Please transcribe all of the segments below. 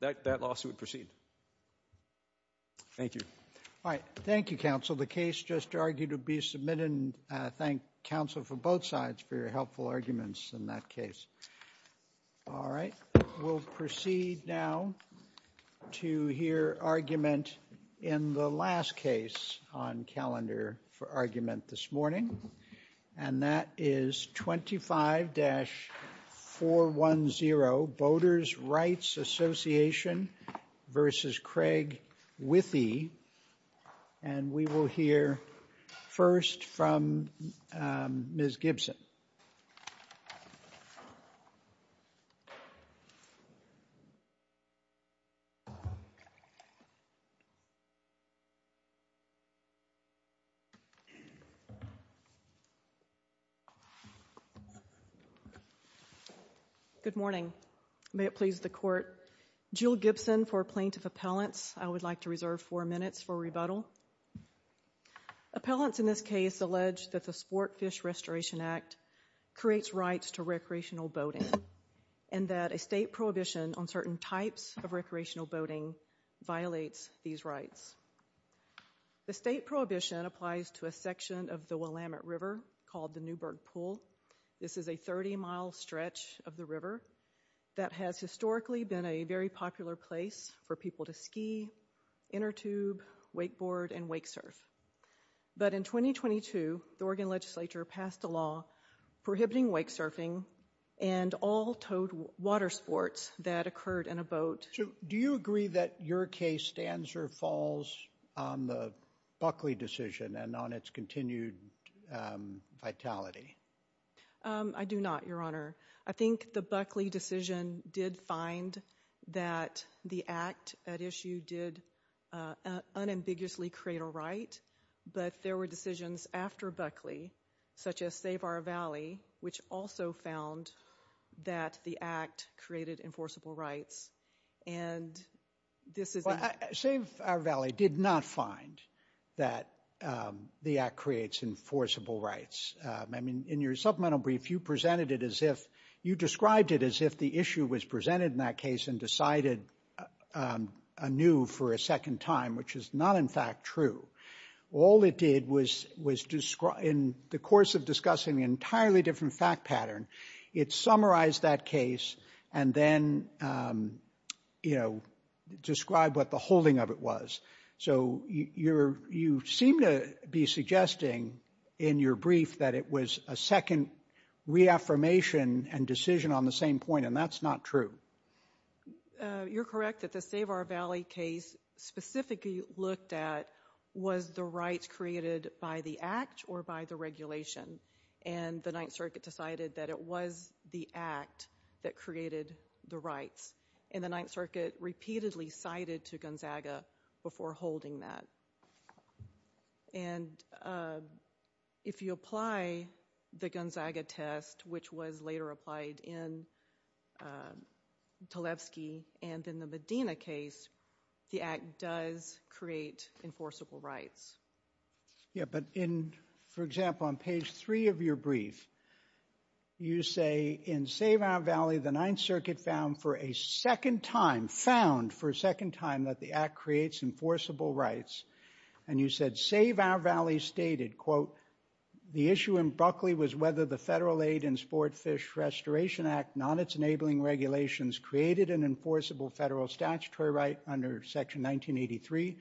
That that lawsuit proceed. Thank you. All right. Thank you. Counsel the case just argued to be submitted and thank counsel for both sides for your helpful arguments in that case. All right, we'll proceed now to hear argument in the last case on calendar for argument this morning and that is 25 dash 410 voters Rights Association versus Craig Withee and we will hear first from Miss Gibson. Good morning, may it please the court Jule Gibson for plaintiff appellants. I would like to reserve four minutes for rebuttal. Appellants in this case alleged that the sport fish Restoration Act creates rights to recreational boating and that a state prohibition on certain types of recreational boating violates these rights. The state prohibition applies to a section of the Willamette River called the Newburgh pool. This is a 30 mile stretch of the river that has historically been a very popular place for people to ski inner tube wakeboard and wake surf. But in 2022, the Oregon Legislature passed a law prohibiting wake surfing and all toad water sports that occurred in a boat. Do you agree that your case stands or falls on the Buckley decision and on its continued Vitality? I do not your honor. I think the Buckley decision did find that the act at issue did unambiguously create a right but there were decisions after Buckley such as save our Valley which also found that the act created enforceable rights and this is what I save our Valley did not find that the act creates enforceable rights. I mean in your supplemental brief you presented it as if you described it as if the issue was presented in that case and decided a new for a second time, which is not in fact true. All it did was was described in the course of discussing the entirely different fact pattern. It summarized that case and then you know describe what the holding of it was. So you're you seem to be suggesting in your brief that it was a second reaffirmation and decision on the same point and that's not true. You're correct at the save our Valley case specifically looked at was the rights created by the act or by the regulation and the Ninth Circuit decided that it was the act that created the rights in the Ninth Circuit repeatedly cited to Gonzaga before holding that. And if you apply the Gonzaga test, which was later applied in Tlaib ski and in the Medina case, the act does create enforceable rights. Yeah, but in for example on page three of your brief you say in save our Valley the Ninth Circuit found for a second time found for a second time that the act creates enforceable rights and you said save our Valley stated quote the issue in Buckley was whether the Federal Aid and Sport Fish Restoration Act non its enabling regulations created an enforceable federal statutory right under section 1983.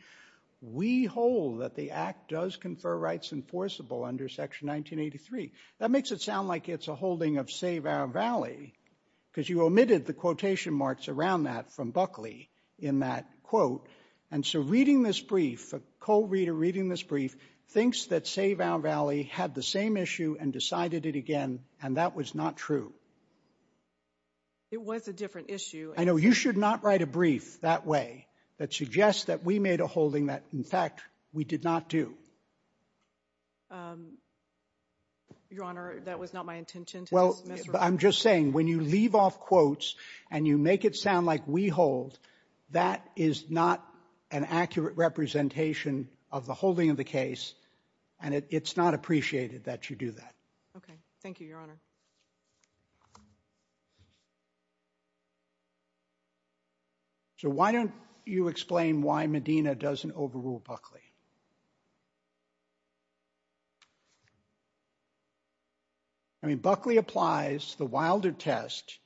We hold that the act does confer rights enforceable under section 1983 that makes it sound like it's a holding of save our Valley because you omitted the quotation marks around that from Buckley in that quote. And so reading this brief a co-reader reading this brief thinks that save our Valley had the same issue and decided it again and that was not true. It was a different issue. I know you should not write a brief that way that suggests that we made a holding that in fact, we did not do. Your Honor. That was not my intention. Well, I'm just saying when you leave off quotes and you make it sound like we hold that is not an accurate representation of the holding of the case and it's not appreciated that you do that. Okay. Thank you, Your Honor. So why don't you explain why Medina doesn't overrule Buckley? I mean Buckley applies the Wilder test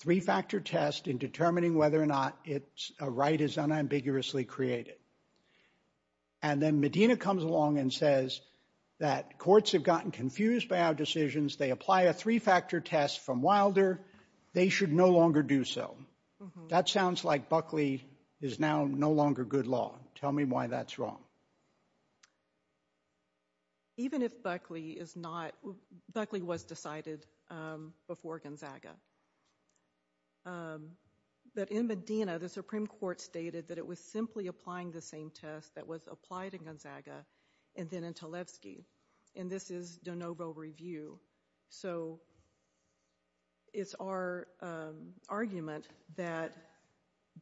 three-factor test in determining whether or not it's a right is unambiguously created. And then Medina comes along and says that courts have gotten confused by our decisions. They apply a three-factor test from Wilder. They should no longer do so. That sounds like Buckley is now no longer good law. Tell me why that's wrong. Even if Buckley is not Buckley was decided before Gonzaga. But in Medina, the Supreme Court stated that it was simply applying the same test that was applied in Gonzaga and then in Tlaib ski and this is De Novo review. So it's our argument that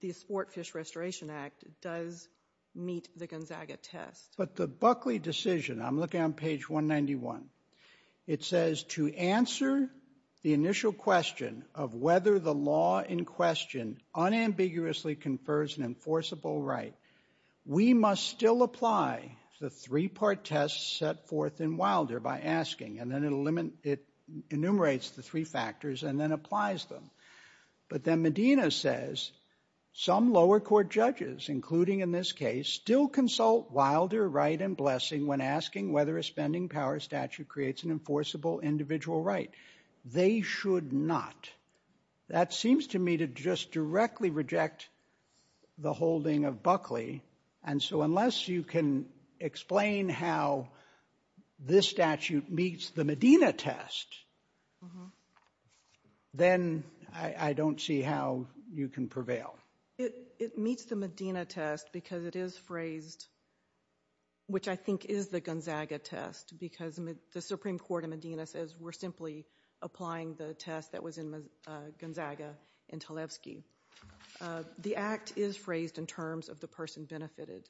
the sport fish Restoration Act does meet the Gonzaga requirement. Gonzaga test, but the Buckley decision I'm looking on page 191. It says to answer the initial question of whether the law in question unambiguously confers an enforceable right. We must still apply the three-part test set forth in Wilder by asking and then it'll limit it enumerates the three factors and then applies them. But then Medina says some lower court judges including in this case still consult Wilder right and blessing when asking whether a spending power statute creates an enforceable individual right. They should not that seems to me to just directly reject the holding of Buckley. And so unless you can explain how this statute meets the Medina test. Then I don't see how you can prevail. It meets the Medina test because it is phrased. Which I think is the Gonzaga test because the Supreme Court in Medina says we're simply applying the test that was in the Gonzaga and Tlaib ski. The act is phrased in terms of the person benefited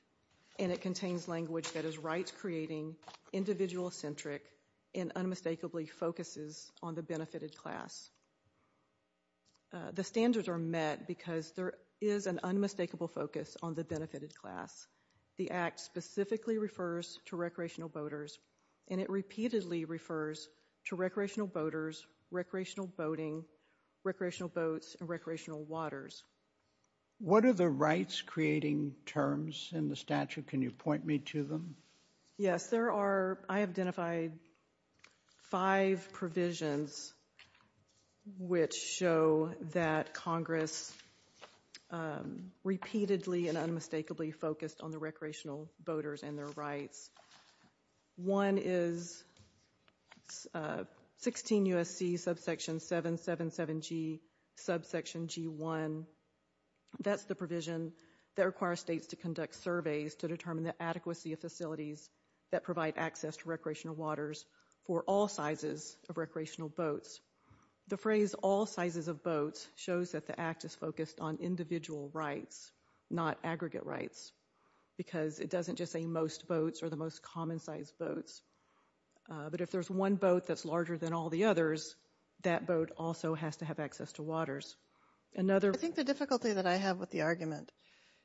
and it contains language that is right creating individual centric and unmistakably focuses on the benefited class. The standards are met because there is an unmistakable focus on the benefited class. The act specifically refers to recreational boaters and it repeatedly refers to recreational boaters recreational boating recreational boats and recreational waters. What are the rights creating terms in the statute? Can you point me to them? Yes, there are I have identified five provisions. Which show that Congress repeatedly and unmistakably focused on the recreational boaters and their rights. One is 16 USC subsection 777 G subsection G1. That's the provision that requires States to conduct surveys to determine the adequacy of facilities that provide access to recreational waters for all sizes of recreational boats. The phrase all sizes of boats shows that the act is focused on individual rights not aggregate rights because it doesn't just say most boats are the most common size boats. But if there's one boat that's larger than all the others that boat also has to have access to waters another. I think the difficulty that I have with the argument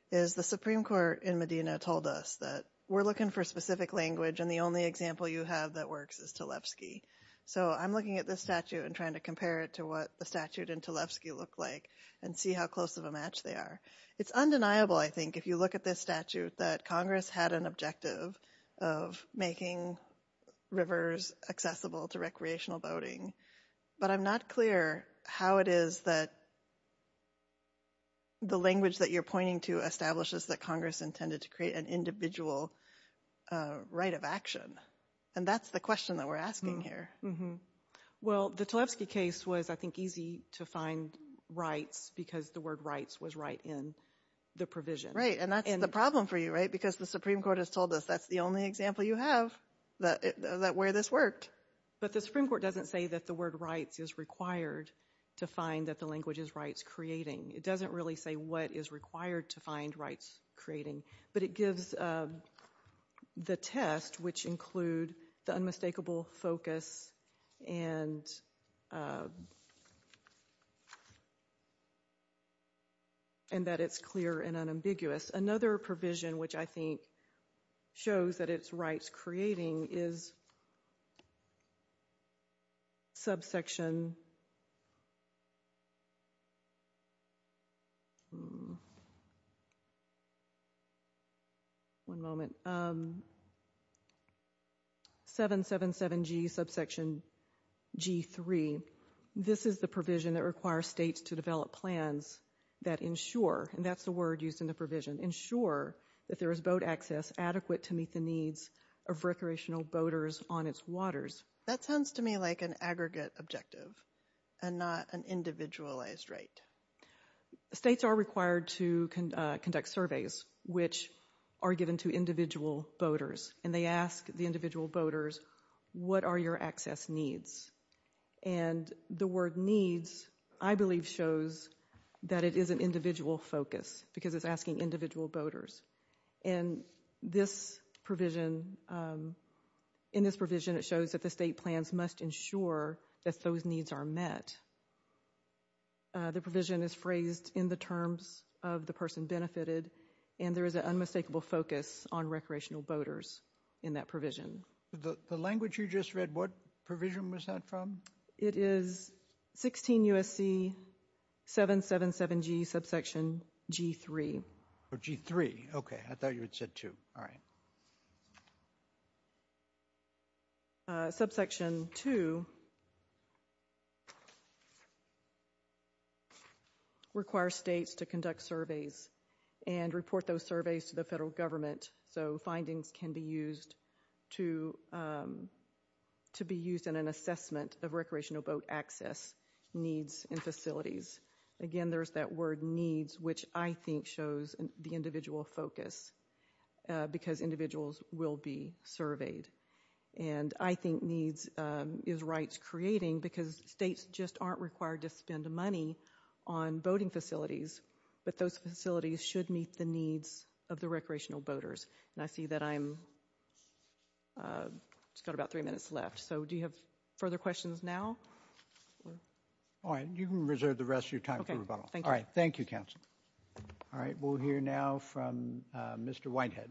is the Supreme Court in Medina told us that we're looking for specific language and the only example you have that works is Tlefsky. So I'm looking at this statute and trying to compare it to what the statute and Tlefsky look like and see how close of a match they are. It's undeniable. I think if you look at this statute that Congress had an objective of making rivers accessible to recreational boating, but I'm not clear how it is that the language that you're pointing to establishes that Congress intended to create an individual right of action. And that's the question that we're asking here. Well, the Tlefsky case was I think easy to find rights because the word rights was right in the provision, right? And that's the problem for you, right? Because the Supreme Court has told us that's the only example you have that where this worked, but the Supreme Court doesn't say that the word rights is required to find that the language is rights creating. It doesn't really say what is required to find rights creating, but it gives the test which include the unmistakable focus and that it's clear and unambiguous. Another provision which I think shows that it's rights creating is subsection. One moment. 777 G subsection G3. This is the provision that requires states to develop plans that ensure and that's the word used in the provision ensure that there is boat access adequate to meet the needs of recreational boaters on its waters. That sounds to me like an aggregate objective and not an individualized right. States are required to conduct surveys which are given to individual boaters and they ask the individual boaters. What are your access needs? And the word needs I believe shows that it is an individual focus because it's asking individual boaters and this provision in this provision. It shows that the state plans must ensure that those needs are met. The provision is phrased in the terms of the person benefited and there is an unmistakable focus on recreational boaters in that provision the language you just read what provision was that from it is 16 USC 777 G subsection G3 or G3. Okay. I thought you had said to all right. Subsection to require states to conduct surveys and report those surveys to the federal government. So findings can be used to to be used in an assessment of recreational boat access needs and facilities again. There's that word needs which I think shows the individual focus because individuals will be surveyed and I think needs is rights creating because states just aren't required to spend money on boating facilities, but those facilities should meet the needs of the recreational boaters. And I see that I'm just got about three minutes left. So do you have further questions now? All right, you can reserve the rest of your time for rebuttal. All right. Thank you counsel. All right. We'll hear now from Mr. Whitehead.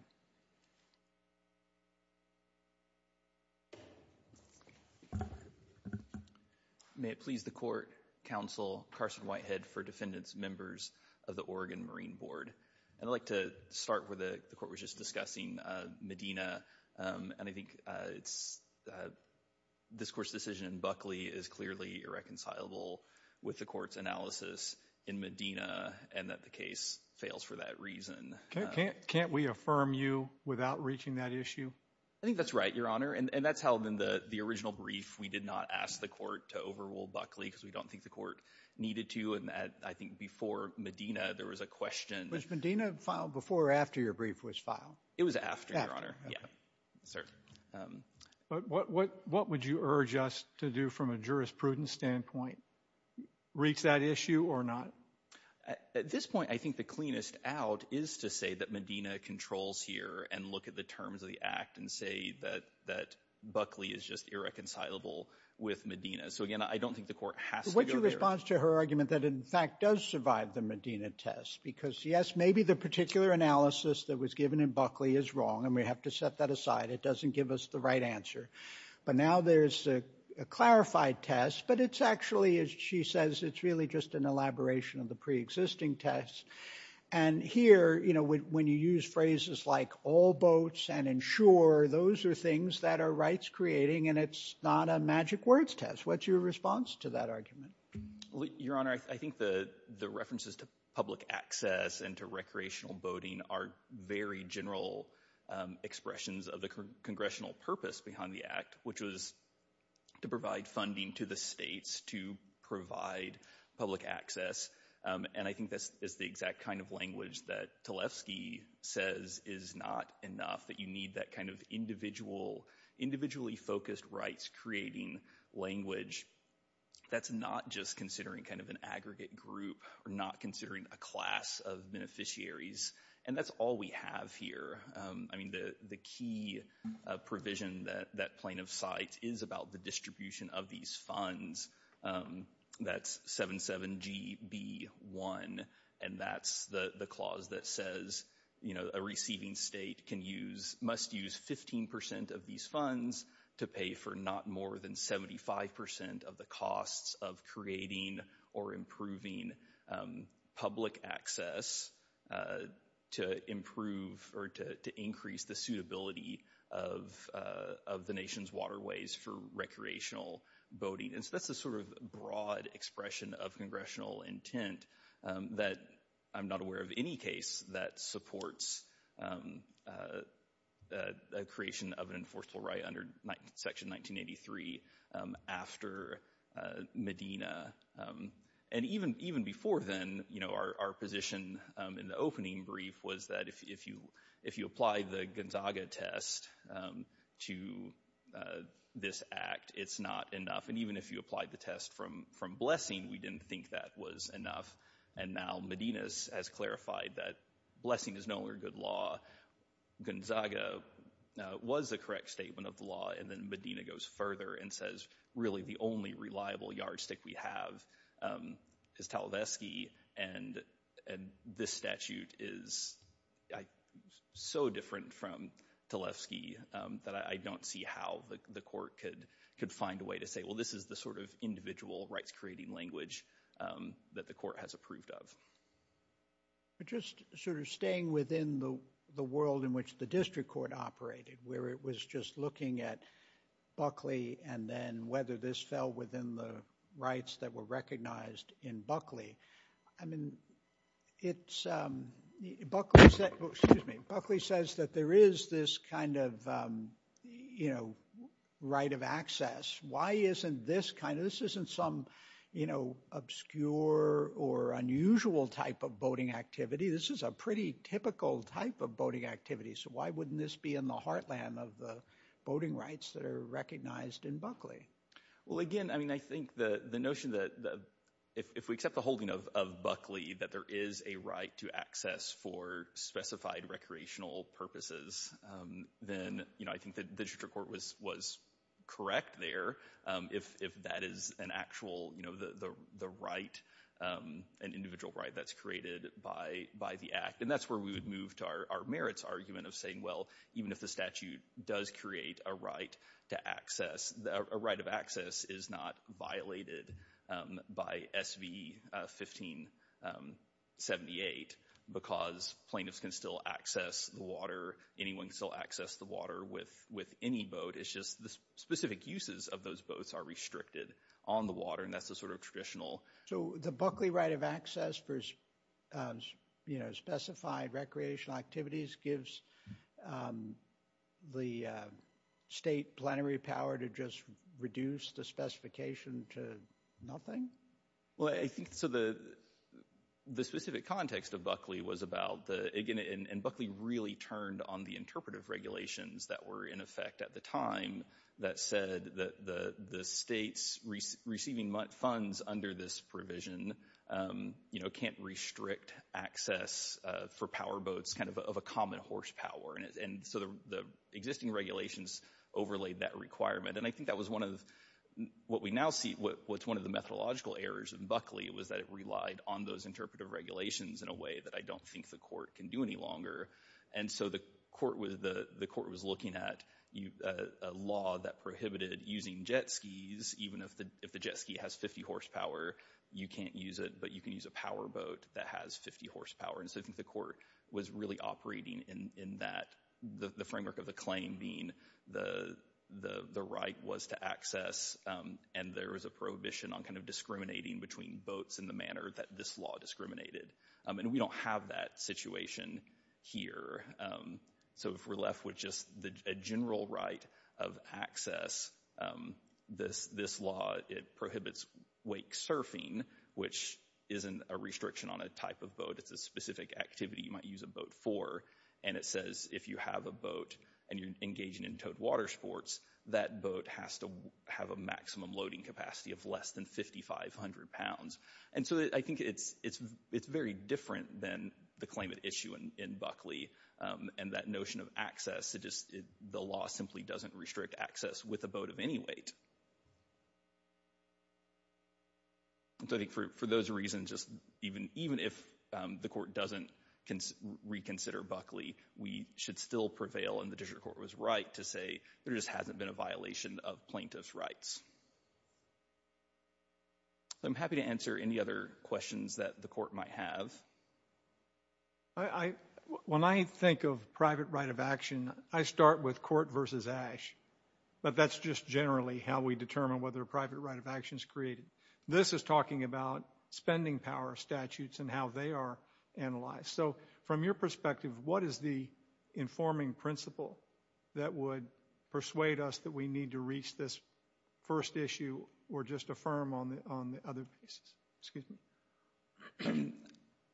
May it please the court counsel Carson Whitehead for defendants members of the Oregon Marine Board and I'd like to start with the court was just discussing Medina and I think it's this court's decision in Buckley is clearly irreconcilable with the court's analysis in Medina and that the case fails for that reason. Can't we affirm you without reaching that issue? I think that's right your honor and that's how then the original brief we did not ask the court to overrule Buckley because we don't think the court needed to and that I think before Medina there was a question. Was Medina filed before or after your brief was filed? It was after your honor. Yeah, sir. But what would you urge us to do from a jurisprudence standpoint reach that issue or not? At this point. I think the cleanest out is to say that Medina controls here and look at the terms of the act and say that that Buckley is just irreconcilable with Medina. So again, I don't think the court has to go to response to her argument that in fact does survive the Medina test because yes, maybe the particular analysis that was given in Buckley is wrong and we have to set that aside. It doesn't give us the right answer, but now there's a clarified test, but it's actually as she says, it's really just an elaboration of the pre-existing test and here, you know, when you use phrases like all boats and ensure those are things that are rights creating and it's not a magic words test. What's your response to that argument? Your honor. I think the the references to public access and to recreational boating are very general expressions of the congressional purpose behind the act, which was to provide funding to the states to provide public access. And I think this is the exact kind of language that Tlaib ski says is not enough that you need that kind of individual individually focused rights creating language. That's not just considering kind of an aggregate group or not considering a class of beneficiaries and that's all we have here. I mean the the key provision that that plain of sight is about the distribution of these funds. That's 7 7 GB 1 and that's the the clause that says, you know, a receiving state can use must use 15% of these funds to pay for not more than 75% of the costs of creating or improving public access to improve or to increase the suitability of of the nation's waterways for recreational boating. And so that's the sort of broad expression of congressional intent that I'm not aware of any case that supports a creation of an enforceable right under section 1983 after Medina and even even before then, you know, our position in the opening brief was that if you if you apply the Gonzaga test to this act, it's not enough. And even if you applied the test from from blessing, we didn't think that was enough. And now Medina's has clarified that blessing is no longer good law Gonzaga was the correct statement of the law and then Medina goes further and says really the only reliable yardstick we have is tell this key and and this statute is so different from the left ski that I don't see how the court could could find a way to say, well, this is the sort of individual rights creating language that the court has approved of. Just sort of staying within the the world in which the district court operated where it was just looking at Buckley and then whether this fell within the rights that were recognized in I mean, it's Buckley says that there is this kind of, you know, right of access. Why isn't this kind of this isn't some, you know, obscure or unusual type of boating activity. This is a pretty typical type of boating activity. So why wouldn't this be in the heartland of the boating rights that are recognized in Buckley? Well, again, I mean, I think the the notion that if we accept the holding of Buckley that there is a right to access for specified recreational purposes, then, you know, I think that the district court was was correct there. If that is an actual, you know, the right an individual right that's created by by the act and that's where we would move to our merits argument of saying well, even if the statute does create a right to access the right of access is not violated by SV 1578 because plaintiffs can still access the water. Anyone can still access the water with with any boat. It's just the specific uses of those boats are restricted on the water and that's the sort of traditional. So the Buckley right of access for, you know, specified recreational activities gives the state plenary power to just reduce the specification to nothing. Well, I think so the the specific context of Buckley was about the again and Buckley really turned on the interpretive regulations that were in effect at the time that said that the state's receiving funds under this provision, you know, can't restrict access for power boats kind of a common horsepower and so the existing regulations overlaid that requirement and I think that was one of what we now see what's one of the methodological errors and Buckley was that it relied on those interpretive regulations in a way that I don't think the court can do any longer. And so the court was the court was looking at you a law that prohibited using jet skis, even if the if the jet ski has 50 horsepower, you can't use it, but you can use a power boat that has 50 horsepower. And so I think the court was really operating in that the framework of the claim being the the right was to access and there was a prohibition on kind of discriminating between boats in the manner that this law discriminated and we don't have that situation here. So if we're left with just the general right of access this this law, it prohibits wake surfing, which isn't a restriction on a type of boat. It's a specific activity you might use a boat for and it says if you have a boat and you're engaging in towed water sports that boat has to have a maximum loading capacity of less than 5,500 pounds. And so I think it's it's it's very different than the climate issue in Buckley and that notion of access it is the law simply doesn't restrict access with a boat of any weight. And so I think for those reasons, just even even if the court doesn't reconsider Buckley, we should still prevail and the district court was right to say there just hasn't been a violation of plaintiff's rights. I'm happy to answer any other questions that the court might have. I when I think of private right of action, I start with court versus ash, but that's just generally how it works. How we determine whether a private right of action is created. This is talking about spending power statutes and how they are analyzed. So from your perspective, what is the informing principle that would persuade us that we need to reach this first issue or just affirm on the on the other pieces, excuse me.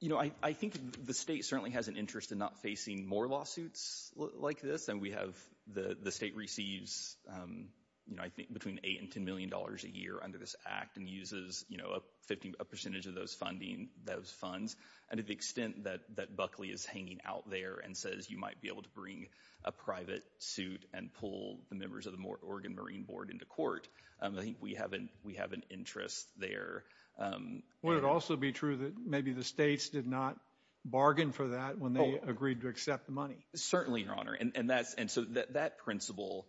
You know, I think the state certainly has an interest in not facing more lawsuits like this and we have the the state receives, you know, I think between 8 and 10 million dollars a year under this act and uses, you know, a 50 percentage of those funding those funds and to the extent that that Buckley is hanging out there and says you might be able to bring a private suit and pull the members of the more Oregon Marine Board into court. I think we haven't we have an interest there. Would it also be true that maybe the states did not bargain for that when they agreed to accept the money? Certainly, your honor. And that's and so that principle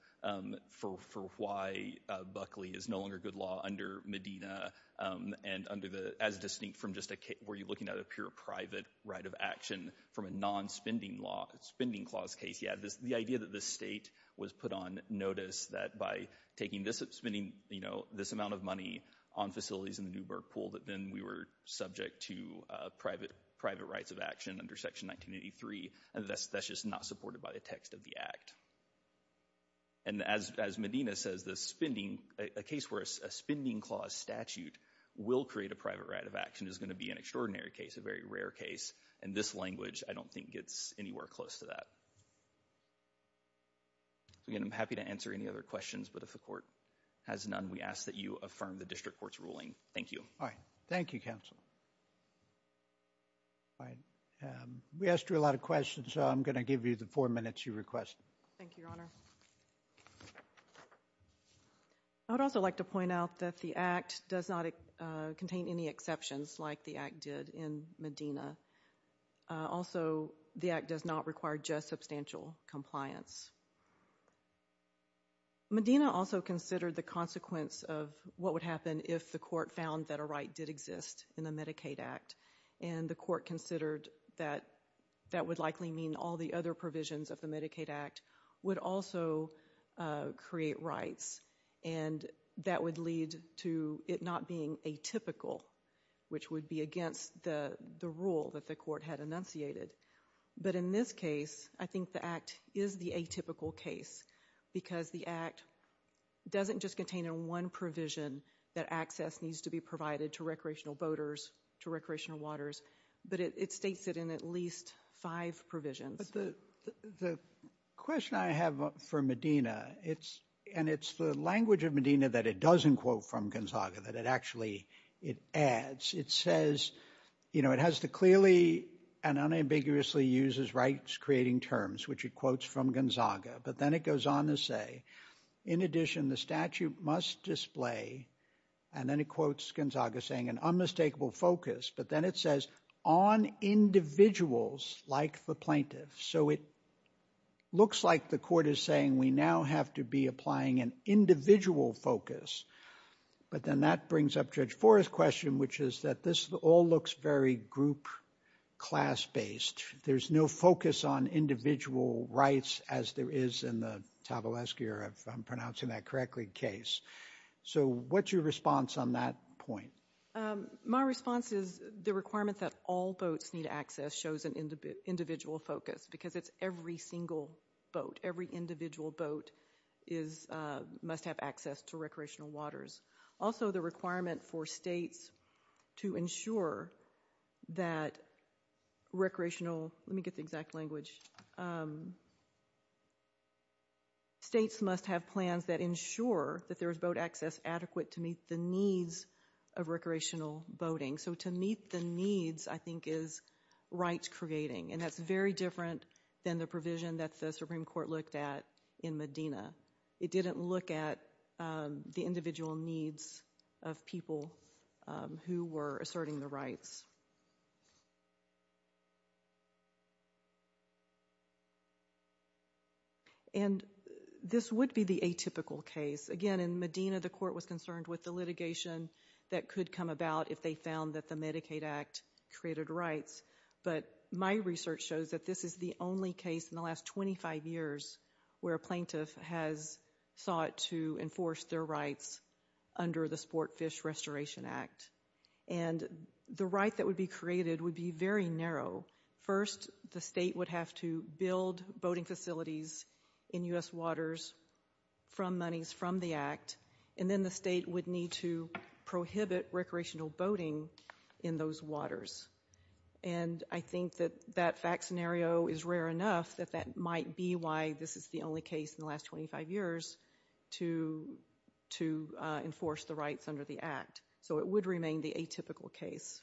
for why Buckley is no longer good law under Medina and under the as distinct from just a case where you're looking at a pure private right of action from a non-spending law spending clause case. Yeah, this the idea that the state was put on notice that by taking this up spending, you know, this amount of money on facilities in the Newburgh pool that then we were subject to private private rights of action under section 1983 and that's just not supported by the text of the act. And as Medina says the spending a case where a spending clause statute will create a private right of action is going to be an extraordinary case a very rare case and this language. I don't think it's anywhere close to that. So again, I'm happy to answer any other questions. But if the court has none we ask that you affirm the district courts ruling. Thank you. All right. Thank you counsel. All right, we asked you a lot of questions. So I'm going to give you the four minutes you request. Thank you, Your Honor. I would also like to point out that the act does not contain any exceptions like the act did in Medina. Also, the act does not require just substantial compliance. Medina also considered the consequence of what would happen if the court found that a right did exist in the Medicaid Act and the court considered that that would likely mean all the other provisions of the Medicaid Act would also create rights and that would lead to it not being a typical which would be against the the rule that the court had enunciated. But in this case, I think the act is the atypical case because the act doesn't just contain in one provision that access needs to be provided to recreational boaters to recreational waters, but it states it in at least five provisions. The question I have for Medina, it's and it's the language of Medina that it doesn't quote from Gonzaga that it actually it adds. It says, you know, it has to clearly and unambiguously uses rights creating terms which it quotes from Gonzaga, but then it goes on to say in addition the statute must display and then it quotes Gonzaga saying an unmistakable focus, but then it says on individuals like the plaintiff. So it looks like the court is saying we now have to be applying an individual focus. But then that brings up Judge Forrest question, which is that this all looks very group class-based. There's no focus on individual rights as there is in the tabulesque era if I'm pronouncing that correctly case. So what's your response on that point? My response is the requirement that all boats need access shows an individual focus because it's every single boat every individual boat is must have access to recreational waters. Also the requirement for states to ensure that recreational let me get the exact language. States must have plans that ensure that there is boat access adequate to meet the needs of recreational boating. So to meet the needs I think is rights creating and that's very different than the provision that the Supreme Court looked at in Medina. It didn't look at the individual needs of people who were asserting the rights. And this would be the atypical case again in Medina. The court was concerned with the litigation that could come about if they found that the Medicaid Act created rights, but my research shows that this is the only case in the last 25 years where a plaintiff has sought to enforce their rights under the sport fish Restoration Act and the right that would be created would be very narrow first. The state would have to build boating facilities in US waters from monies from the act and then the state would need to prohibit recreational boating in those waters. And I think that that fact scenario is rare enough that that might be why this is the only case in the last 25 years to to enforce the rights under the act. So it would remain the atypical case.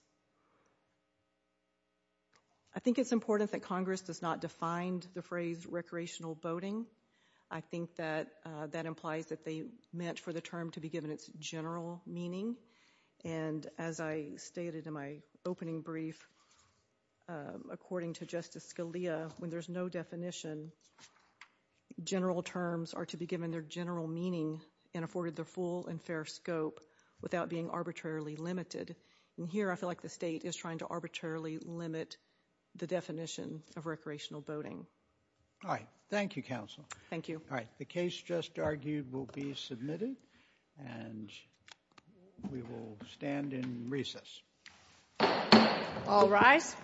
I think it's important that Congress does not Defined the phrase recreational boating. I think that that implies that they meant for the term to be given its general meaning. And as I stated in my opening brief, according to Justice Scalia when there's no definition general terms are to be given their general meaning and afforded their full and fair scope without being arbitrarily limited and here I feel like the state is trying to arbitrarily limit the definition of recreational boating. All right. Thank you counsel. Thank you. All right. The case just argued will be submitted and we will stand in recess. All rise.